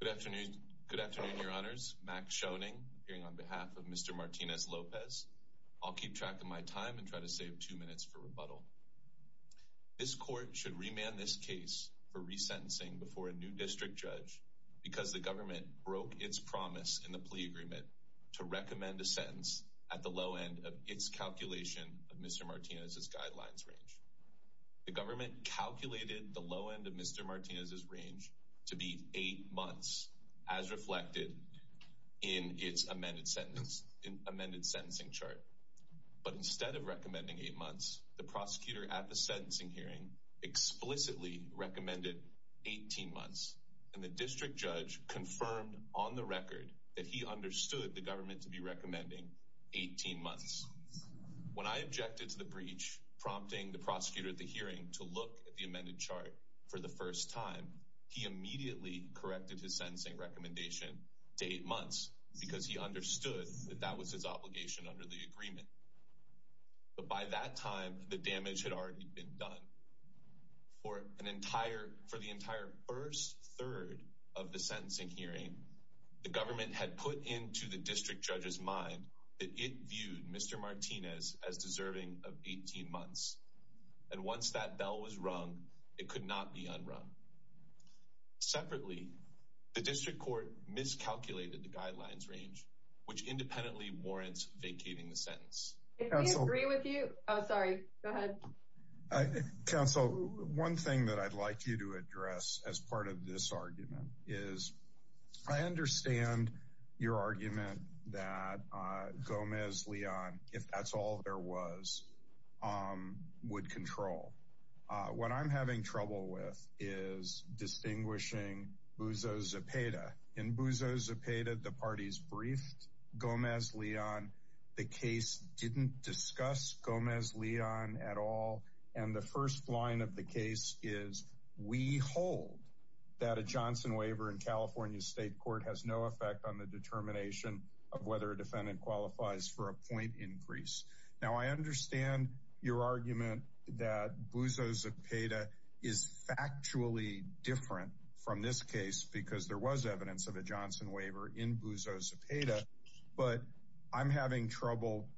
Good afternoon, your honors, Max Schoening, appearing on behalf of Mr. Martinez-Lopez. I'll keep track of my time and try to save two minutes for rebuttal. This court should remand this case for resentencing before a new district judge because the government broke its promise in the plea agreement to recommend a sentence at the low end of its calculation of Mr. Martinez's guidelines range. The government calculated the low end of Mr. Martinez's range to be 8 months as reflected in its amended sentencing chart. But instead of recommending 8 months, the prosecutor at the sentencing hearing explicitly recommended 18 months, and the district judge confirmed on the record that he understood the government to be recommending 18 months. When I objected to the breach, prompting the prosecutor at the hearing to look at the amended chart for the first time, he immediately corrected his sentencing recommendation to 8 months because he understood that that was his obligation under the agreement. But by that time, the damage had already been done. For the entire first third of the sentencing hearing, the government had put into the district judge's mind that it viewed Mr. Martinez as deserving of 18 months. And once that bell was rung, it could not be unrung. Separately, the district court miscalculated the guidelines range, which independently warrants vacating the sentence. Counsel, one thing that I'd like you to address as part of this argument is I understand your argument that Gomez-Leon, if that's all there was, would control. What I'm having trouble with is distinguishing Buzo Zepeda. In Buzo Zepeda, the parties briefed Gomez-Leon. The case didn't discuss Gomez-Leon at all. And the first line of the case is, we hold that a Johnson waiver in California State Court has no effect on the determination of whether a defendant qualifies for a point increase. Now, I understand your argument that Buzo Zepeda is factually different from this case because there was evidence of a Johnson waiver in Buzo Zepeda. But I'm having trouble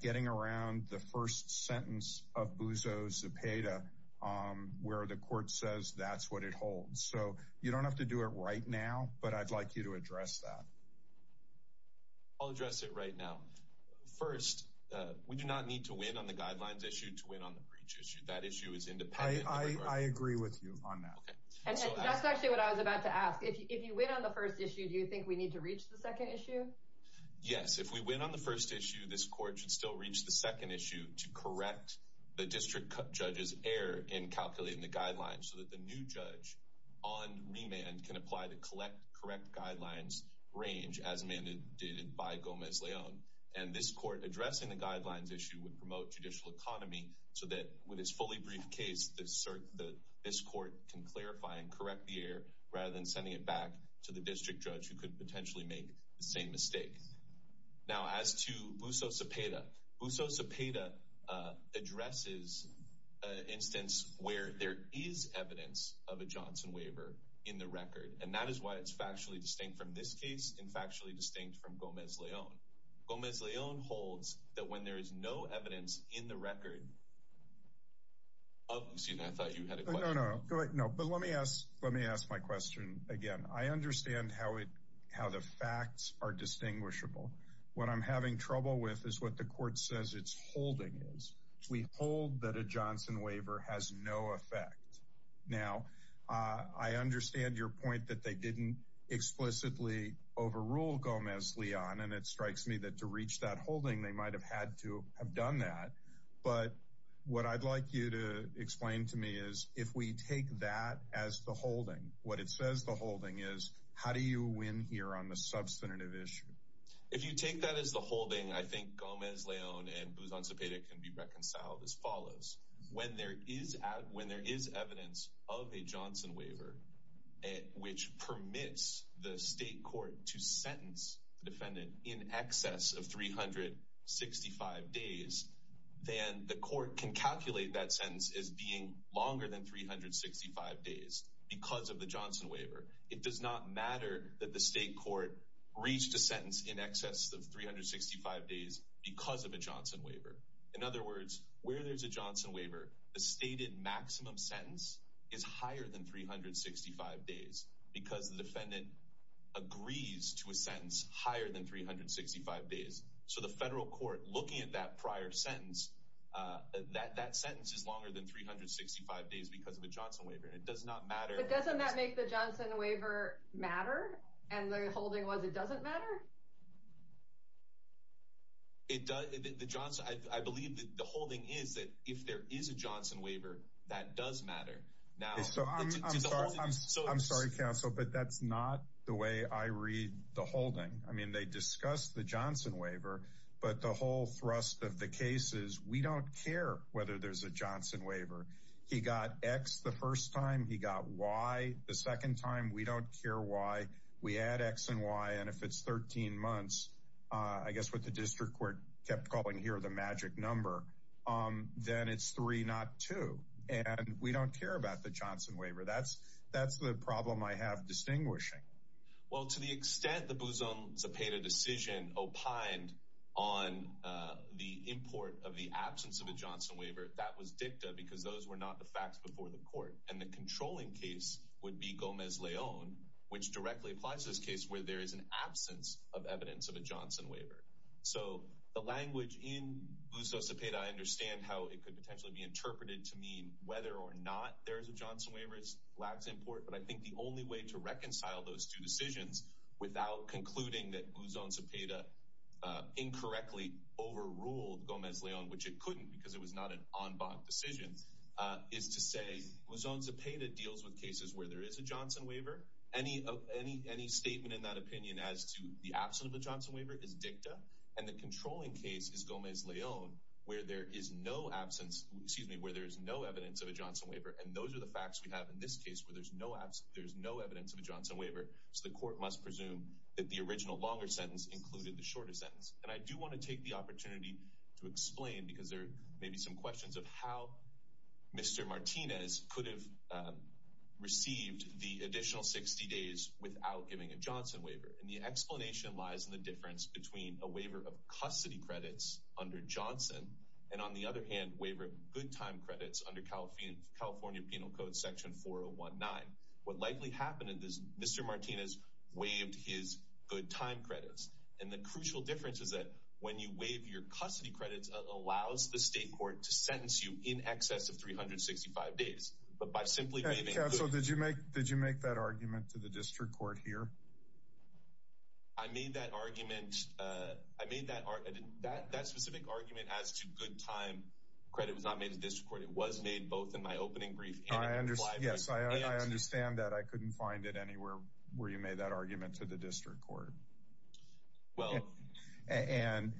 getting around the first sentence of Buzo Zepeda where the court says that's what it holds. So you don't have to do it right now, but I'd like you to address that. I'll address it right now. First, we do not need to win on the guidelines issue to win on the breach issue. That issue is independent. I agree with you on that. That's actually what I was about to ask. If you win on the first issue, do you think we need to reach the second issue? Yes, if we win on the first issue, this court should still reach the second issue to correct the district judge's error in calculating the guidelines so that the new judge on remand can apply to collect correct guidelines range as mandated by Gomez-Leon. And this court addressing the guidelines issue would promote judicial economy so that with this fully brief case, this court can clarify and correct the error rather than sending it back to the district judge who could potentially make the same mistake. Now, as to Buzo Zepeda, Buzo Zepeda addresses an instance where there is evidence of a Johnson waiver in the record, and that is why it's factually distinct from this case and factually distinct from Gomez-Leon. Gomez-Leon holds that when there is no evidence in the record of— Excuse me, I thought you had a question. No, no, but let me ask my question again. I understand how the facts are distinguishable. What I'm having trouble with is what the court says its holding is. We hold that a Johnson waiver has no effect. Now, I understand your point that they didn't explicitly overrule Gomez-Leon, and it strikes me that to reach that holding, they might have had to have done that. But what I'd like you to explain to me is if we take that as the holding, what it says the holding is, how do you win here on the substantive issue? If you take that as the holding, I think Gomez-Leon and Buzo Zepeda can be reconciled as follows. When there is evidence of a Johnson waiver, which permits the state court to sentence the defendant in excess of 365 days, then the court can calculate that sentence as being longer than 365 days because of the Johnson waiver. It does not matter that the state court reached a sentence in excess of 365 days because of a Johnson waiver. In other words, where there's a Johnson waiver, the stated maximum sentence is higher than 365 days because the defendant agrees to a sentence higher than 365 days. So the federal court, looking at that prior sentence, that sentence is longer than 365 days because of a Johnson waiver. It does not matter. But doesn't that make the Johnson waiver matter? And the holding was it doesn't matter? I believe the holding is that if there is a Johnson waiver, that does matter. I'm sorry, counsel, but that's not the way I read the holding. I mean, they discuss the Johnson waiver, but the whole thrust of the case is we don't care whether there's a Johnson waiver. He got X the first time, he got Y the second time. We don't care why. We add X and Y, and if it's 13 months, I guess what the district court kept calling here the magic number, then it's three, not two. And we don't care about the Johnson waiver. That's the problem I have distinguishing. Well, to the extent the Buzo Zepeda decision opined on the import of the absence of a Johnson waiver, that was dicta because those were not the facts before the court. And the controlling case would be Gomez-Leon, which directly applies to this case where there is an absence of evidence of a Johnson waiver. So the language in Buzo Zepeda, I understand how it could potentially be interpreted to mean whether or not there is a Johnson waiver, it's lags import. But I think the only way to reconcile those two decisions without concluding that Buzo Zepeda incorrectly overruled Gomez-Leon, which it couldn't because it was not an en banc decision, is to say Buzo Zepeda deals with cases where there is a Johnson waiver. Any statement in that opinion as to the absence of a Johnson waiver is And the controlling case is Gomez-Leon where there is no absence, excuse me, where there is no evidence of a Johnson waiver. And those are the facts we have in this case where there's no absence, there's no evidence of a Johnson waiver. So the court must presume that the original longer sentence included the shorter sentence. And I do want to take the opportunity to explain because there may be some questions of how Mr. Martinez could have received the additional 60 days without giving a Johnson waiver. And the explanation lies in the difference between a waiver of custody credits under Johnson, and on the other hand, waiver of good time credits under California Penal Code Section 4019. What likely happened is Mr. Martinez waived his good time credits. And the crucial difference is that when you waive your custody credits, it allows the state court to sentence you in excess of 365 days. But by simply waiving- Counsel, did you make that argument to the district court here? I made that argument. I made that specific argument as to good time credit was not made to district court. It was made both in my opening brief and- Yes, I understand that. I couldn't find it anywhere where you made that argument to the district court. Well- And,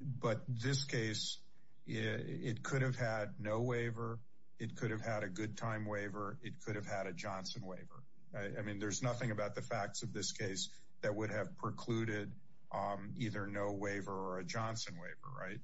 but this case, it could have had no waiver. It could have had a good time waiver. It could have had a Johnson waiver. I mean, there's nothing about the facts of this case that would have precluded either no waiver or a Johnson waiver. Right?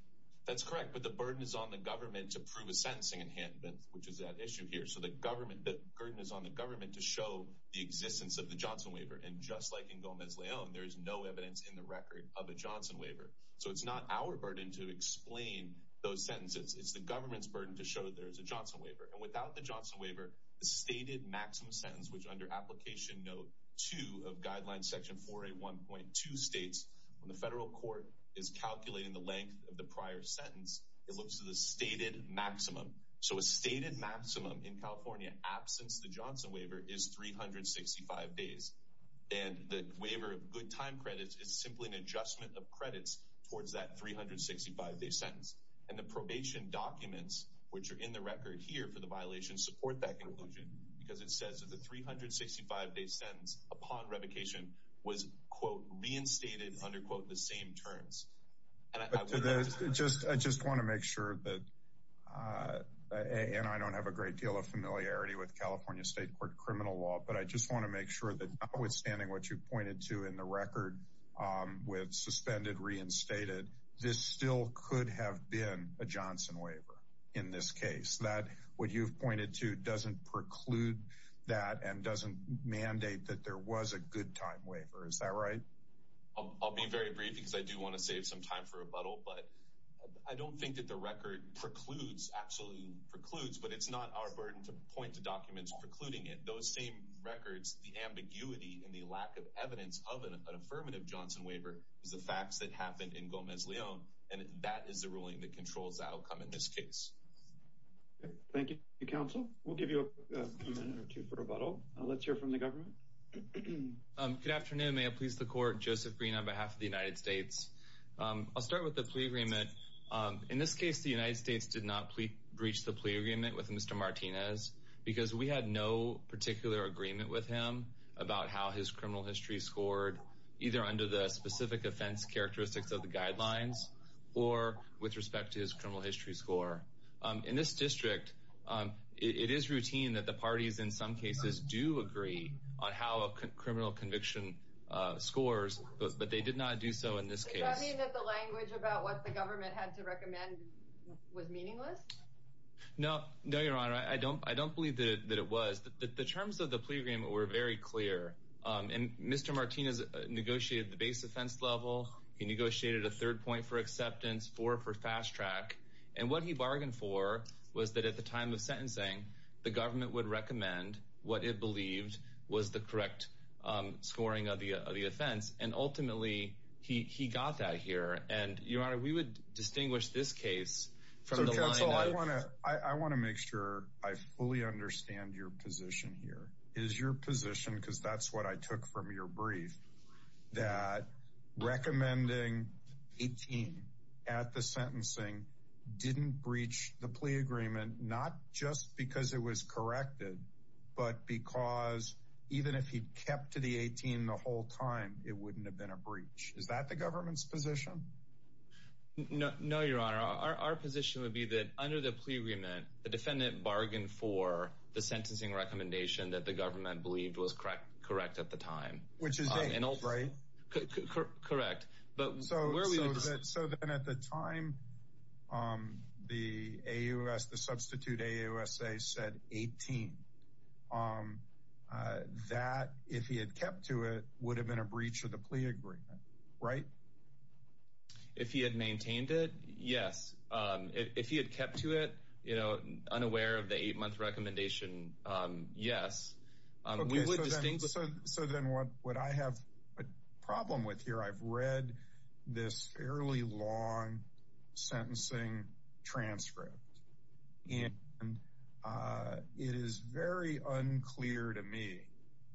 That's correct. But the burden is on the government to prove a sentencing enhancement, which is that issue here. So the government, the burden is on the government to show the existence of the Johnson waiver. And just like in Gomez Leon, there is no evidence in the record of a Johnson waiver. So it's not our burden to explain those sentences. It's the government's burden to show that there's a Johnson waiver. And without the Johnson waiver, the stated maximum sentence, which under application note two of guidelines, section 481.2 states when the federal court is calculating the length of the prior sentence, it looks to the stated maximum. So a stated maximum in California absence, the Johnson waiver is 365 days. And the waiver of good time credits is simply an adjustment of credits towards that 365 day sentence. And the probation documents, which are in the record here for the violation support that conclusion because it says that the 365 day sentence upon revocation was quote reinstated under quote the same terms. Just, I just want to make sure that, and I don't have a great deal of familiarity with California state court criminal law, but I just want to make sure that withstanding what you pointed to in the record with suspended reinstated, this still could have been a Johnson waiver in this case that what you've pointed to doesn't preclude that and doesn't mandate that there was a good time waiver. Is that right? I'll be very brief because I do want to save some time for rebuttal, but I don't think that the record precludes absolutely precludes, but it's not our burden to point to documents precluding it. Those same records, the ambiguity and the lack of evidence of an affirmative Johnson waiver is the facts that happened in Gomez Leon. And that is the ruling that controls the outcome in this case. Thank you. The council will give you a minute or two for rebuttal. Let's hear from the government. Good afternoon. May I please the court Joseph Green on behalf of the United States. I'll start with the plea agreement. In this case, the United States did not reach the plea agreement with Mr. Martinez because we had no particular agreement with him about how his basic offense characteristics of the guidelines or with respect to his criminal history score in this district. It is routine that the parties in some cases do agree on how a criminal conviction scores, but they did not do so in this case, the language about what the government had to recommend was meaningless. No, no, Your Honor. I don't, I don't believe that it was the, the terms of the plea agreement were very clear. And Mr. Martinez negotiated the base offense level. He negotiated a third point for acceptance for, for fast track. And what he bargained for was that at the time of sentencing, the government would recommend what it believed was the correct scoring of the, of the offense. And ultimately he, he got that here and Your Honor, we would distinguish this case from the line. I want to make sure I fully understand your position here is your position because that's what I took from your brief that recommending 18 at the sentencing didn't breach the plea agreement, not just because it was corrected, but because even if he'd kept to the 18 the whole time, it wouldn't have been a breach. Is that the government's position? No, no, Your Honor. Our position would be that under the plea agreement, the defendant bargained for the sentencing recommendation that the government believed was correct. Correct. At the time, which is right. Correct. But so, so then at the time the AUS, the substitute AUSA said 18 that if he had kept to it would have been a breach of the plea agreement, right? If he had maintained it. Yes. If he had kept to it, you know, unaware of the eight month recommendation. Yes. So then what would I have a problem with here? I've read this fairly long sentencing transcript and it is very unclear to me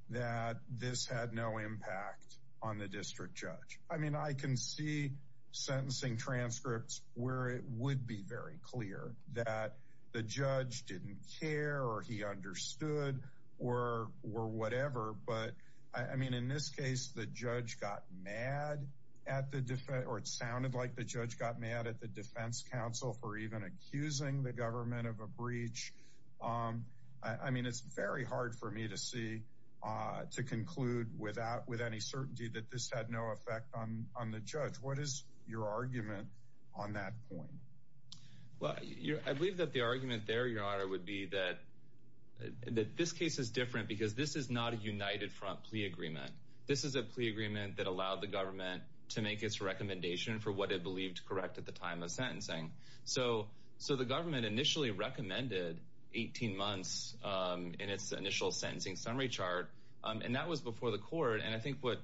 that this had no impact on the district judge. I mean, I can see sentencing transcripts where it would be very clear that the judge didn't care or he understood or, or whatever. But I mean, in this case, the judge got mad at the defense or it sounded like the judge got mad at the defense council for even accusing the government of a breach. I mean, it's very hard for me to see to conclude without with any certainty that this had no effect on, on the judge. What is your argument on that point? Well, I believe that the argument there your honor would be that this case is different because this is not a united front plea agreement. This is a plea agreement that allowed the government to make its recommendation for what it believed correct at the time of sentencing. So, so the government initially recommended 18 months in its initial sentencing summary chart. And that was before the court. And I think what,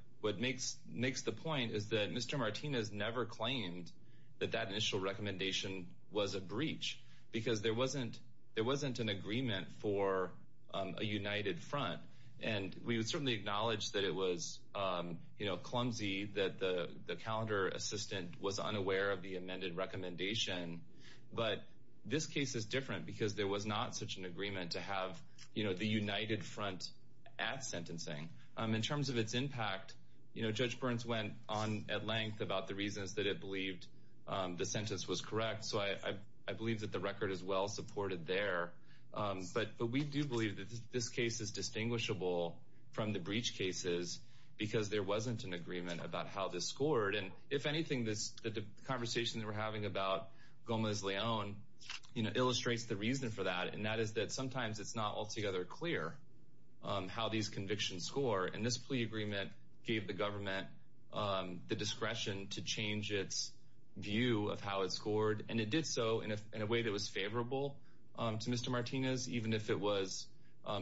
Martinez never claimed that that initial recommendation was a breach. Because there wasn't, there wasn't an agreement for a united front. And we would certainly acknowledge that it was, you know, clumsy that the, the calendar assistant was unaware of the amended recommendation, but this case is different because there was not such an agreement to have, you know, the united front at sentencing in terms of its impact, you know, judge Burns went on at length about the reasons that it believed the sentence was correct. So I, I believe that the record is well supported there. But, but we do believe that this case is distinguishable from the breach cases because there wasn't an agreement about how this scored. And if anything, this conversation that we're having about Gomez Leon, you know, illustrates the reason for that. And that is that sometimes it's not altogether clear how these convictions score. And this plea agreement gave the government the discretion to change its view of how it scored. And it did so in a, in a way that was favorable to Mr. Martinez, even if it was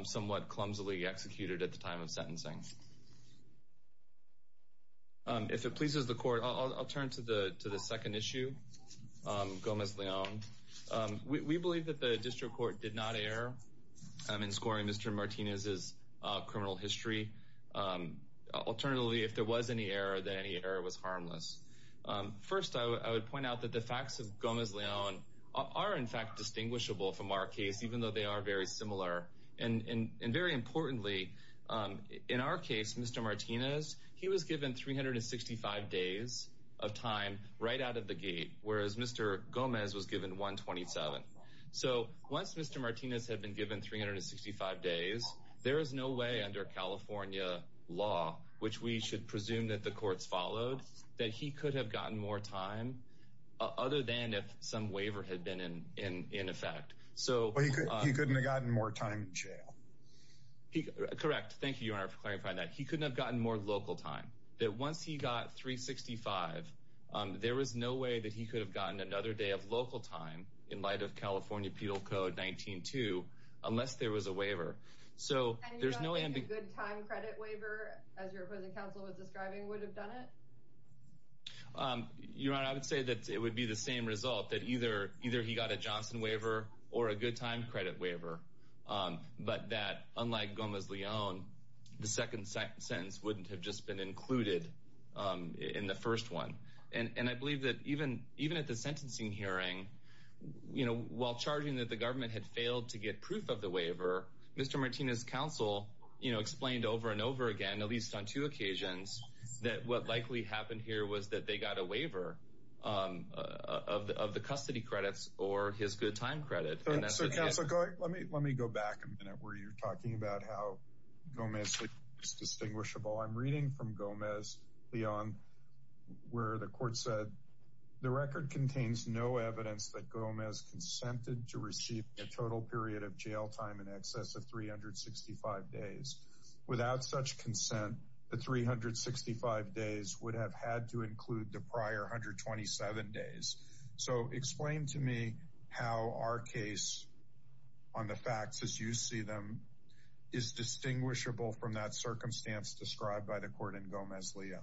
somewhat clumsily executed at the time of sentencing. If it pleases the court, I'll, I'll turn to the, to the second issue. Gomez Leon. We, we believe that the district court did not air. I'm in scoring Mr. Martinez's criminal history. Alternatively, if there was any error, then any error was harmless. First, I would, I would point out that the facts of Gomez Leon are in fact, distinguishable from our case, even though they are very similar and, and, and very importantly in our case, Mr. Martinez, he was given 365 days of time right out of the gate, whereas Mr. Gomez was given one 27. So once Mr. Martinez had been given 365 days, there is no way under California law, which we should presume that the courts followed that he could have gotten more time other than if some waiver had been in, in, in effect. So he couldn't have gotten more time in jail. He correct. Thank you. You are clarifying that he couldn't have gotten more local time that once he got 365, there was no way that he could have gotten another day of local time in light of California penal code 19, two, unless there was a waiver. So there's no, a good time credit waiver as your opposing counsel was describing would have done it. You're right. I would say that it would be the same result that either, either he got a Johnson waiver or a good time credit waiver, but that unlike Gomez Leon, the second sentence wouldn't have just been included in the first one. And, and I believe that even, even at the sentencing hearing, you know, while charging that the government had failed to get proof of the waiver, Mr. Martinez counsel, you know, explained over and over again, at least on two occasions that what likely happened here was that they got a waiver of the, of the custody credits or his good time credit. So counsel, let me, let me go back a minute where you're talking about how Gomez is distinguishable. I'm reading from Gomez beyond where the court said the record contains no evidence that Gomez consented to receive a total period of jail time in excess of 365 days without such consent, the 365 days would have had to include the prior 127 days. So explain to me how our case on the facts as you see them is distinguishable from that circumstance described by the court and Gomez Leon.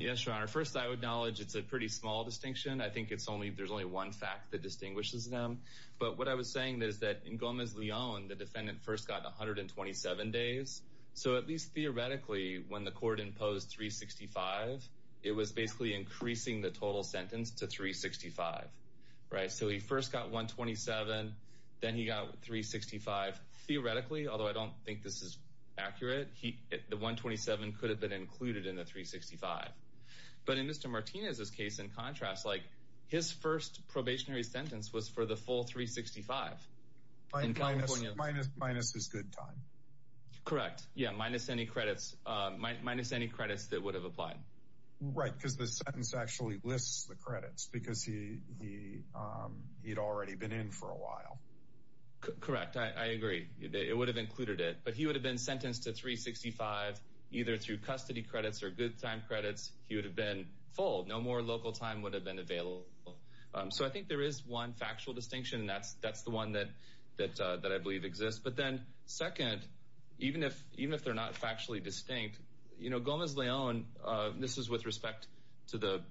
Yes. Your honor. First I would acknowledge it's a pretty small distinction. I think it's only, there's only one fact that distinguishes them, but what I was saying is that in Gomez Leon, the defendant first got 127 days. So at least theoretically, when the court imposed 365, it was basically increasing the total sentence to 365, right? So he first got one 27, then he got three 65 theoretically, although I don't think this is accurate. He, the one 27 could have been included in the three 65, but in Mr. Martinez, this case in contrast, like his first probationary sentence was for the full three 65. Minus, minus, minus his good time. Correct. Yeah. Minus any credits, minus any credits that would have applied, right? Because the sentence actually lists the credits because he, he, he'd already been in for a while. Correct. I agree. It would have included it, but he would have been sentenced to three 65, either through custody credits or good time credits. He would have been full. No more local time would have been available. So I think there is one factual distinction and that's, that's the one that, that, that I believe exists, but then second, even if, even if they're not factually distinct, you know, Gomez Leon, this is with respect to the,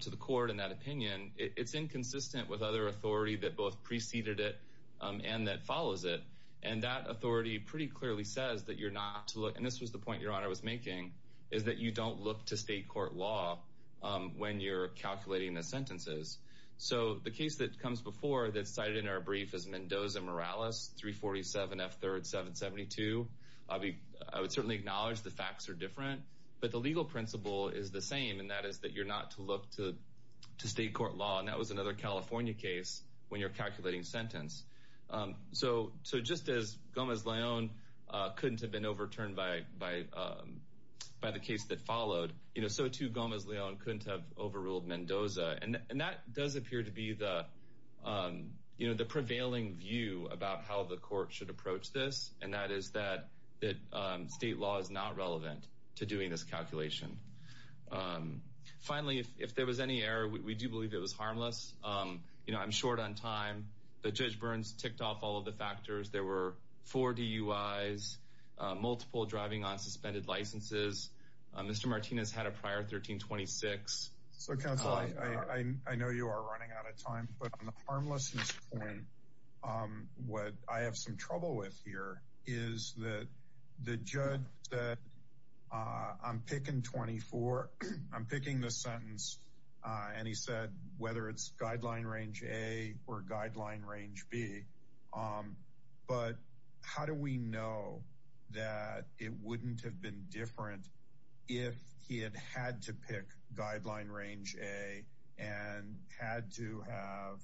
to the court in that opinion, it's inconsistent with other authority that both preceded it and that follows it. And that authority pretty clearly says that you're not to look. And this was the point your honor was making is that you don't look to state court law. When you're calculating the sentences. So the case that comes before that cited in our brief has Mendoza Morales, three 47 F third, seven 72. I'll be, I would certainly acknowledge the facts are different, but the legal principle is the same. And that is that you're not to look to, to state court law. And that was another California case when you're calculating sentence. So, so just as Gomez Leon couldn't have been overturned by, by, by the case that followed, you know, so to Gomez Leon couldn't have overruled Mendoza. And that does appear to be the, you know, the prevailing view about how the court should approach this. And that is that, that state law is not relevant to doing this calculation. Finally, if there was any error, we do believe it was harmless. You know, I'm short on time. The judge burns ticked off all of the factors. There were four DUIs, multiple driving on suspended licenses. Mr. Martinez had a prior 1326. So counsel, I know you are running out of time, but on the harmless point, what I have some trouble with here is that the judge said, I'm picking 24. I'm picking the sentence. And he said, whether it's guideline range a or guideline range B, but how do we know that it wouldn't have been different? If he had had to pick guideline range a and had to have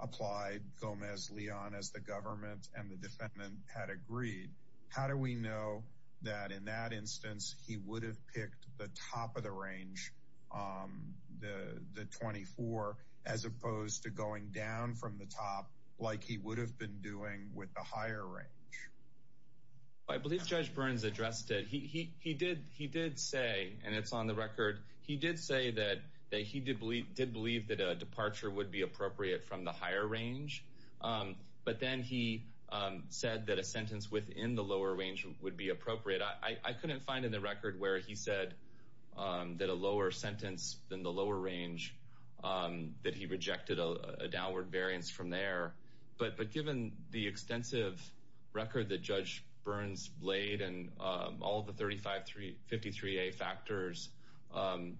applied Gomez Leon as the government and the defendant had agreed, how do we know that in that instance, he would have picked the top of the range, the 24, as opposed to going down from the top, like he would have been doing with the higher range. I believe judge Burns addressed it. He did, he did say, and it's on the record. He did say that, that he did believe, did believe that a departure would be appropriate from the higher range. But then he said that a sentence within the lower range would be appropriate. I couldn't find in the record where he said that a lower sentence than the lower range that he rejected a downward variance from there. But, but given the extensive record that judge Burns laid and all of the 35, three 53, a factors,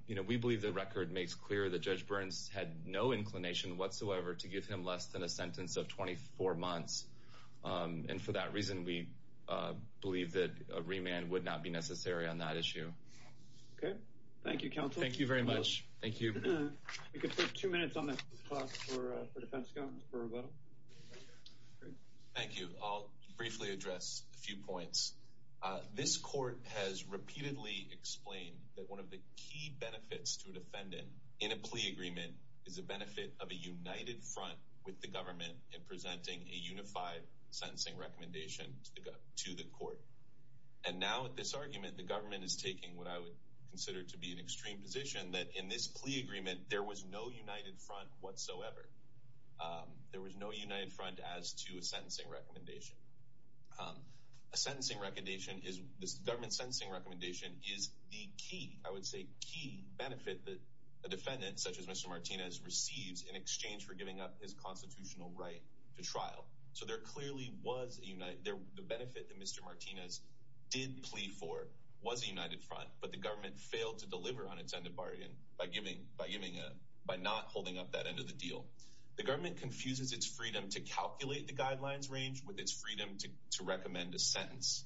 you know, we believe the record makes clear that judge Burns had no inclination whatsoever to give him less than a sentence of 24 months. And for that reason, we believe that a remand would not be necessary on that issue. Okay. Thank you, counsel. Thank you very much. Thank you. We could put two minutes on that for defense. Thank you. I'll briefly address a few points. This court has repeatedly explained that one of the key benefits to a defendant in a plea agreement is the benefit of a united front with the government in presenting a unified sentencing recommendation to the court. And now at this argument, the government is taking what I would consider to be an extreme position that in this plea agreement, there was no united front whatsoever. There was no united front as to a sentencing recommendation. A sentencing recommendation is this government sentencing recommendation is the key. I would say key benefit that a defendant such as mr. Martinez receives in exchange for giving up his constitutional right to trial. So there clearly was a unit there. The benefit that mr. Martinez did plea for was a united front, but the government failed to deliver on its end of bargain by giving, by giving a, by not holding up that end of the deal, the government confuses its freedom to calculate the guidelines range with its freedom to, to recommend a sentence.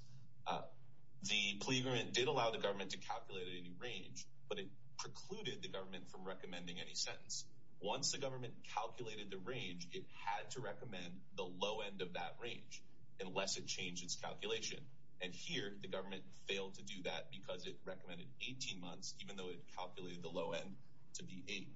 The plea agreement did allow the government to calculate any range, but it precluded the government from recommending any sentence. Once the government calculated the range, it had to recommend the low end of that range unless it changed its calculation. And here the government failed to do that because it recommended 18 months, even though it calculated the low end to be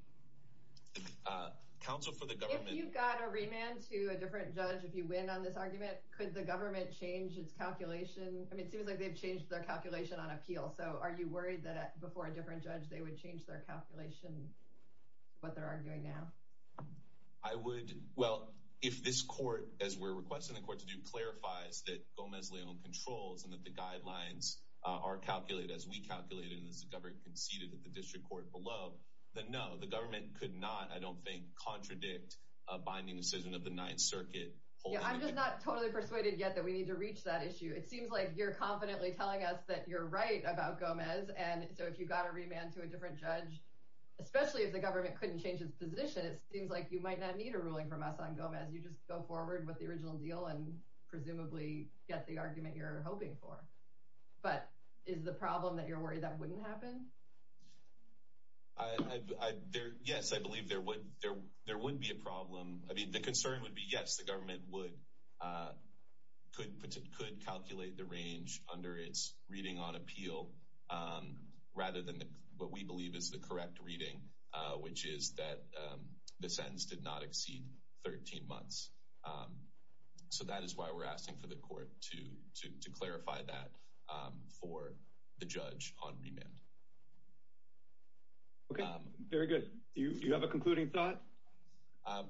a council for the government. You've got a remand to a different judge. If you win on this argument, could the government change its calculation? I mean, it seems like they've changed their calculation on appeal. So are you worried that before a different judge, they would change their calculation, what they're arguing now? I would. Well, if this court, as we're requesting the court to do, clarifies that Gomez Leon controls and that the guidelines are calculated, as we calculated, and as the government conceded at the district court below the, no, the government could not, I don't think contradict a binding decision of the ninth circuit. I'm just not totally persuaded yet that we need to reach that issue. It seems like you're confidently telling us that you're right about Gomez. And so if you've got a remand to a different judge, especially if the government couldn't change his position, it seems like you might not need a ruling from us on Gomez. You just go forward with the original deal and presumably get the argument you're hoping for. But is the problem that you're worried that wouldn't happen? I, there, yes, I believe there would, there, there wouldn't be a problem. I mean, the concern would be, yes, the government would, could, could calculate the range under its reading on appeal, rather than what we believe is the correct reading, which is that the sentence did not exceed 13 months. Um, so that is why we're asking for the court to, to, to clarify that, um, for the judge on remand. Okay. Very good. Do you, do you have a concluding thought? Um,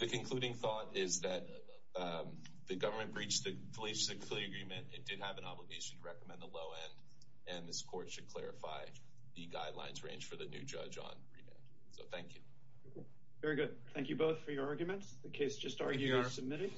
the concluding thought is that, um, the government breached the police, the clear agreement. It did have an obligation to recommend the low end. And this court should clarify the guidelines range for the new judge on. So thank you. Very good. Thank you both for your arguments. The case just started submitting.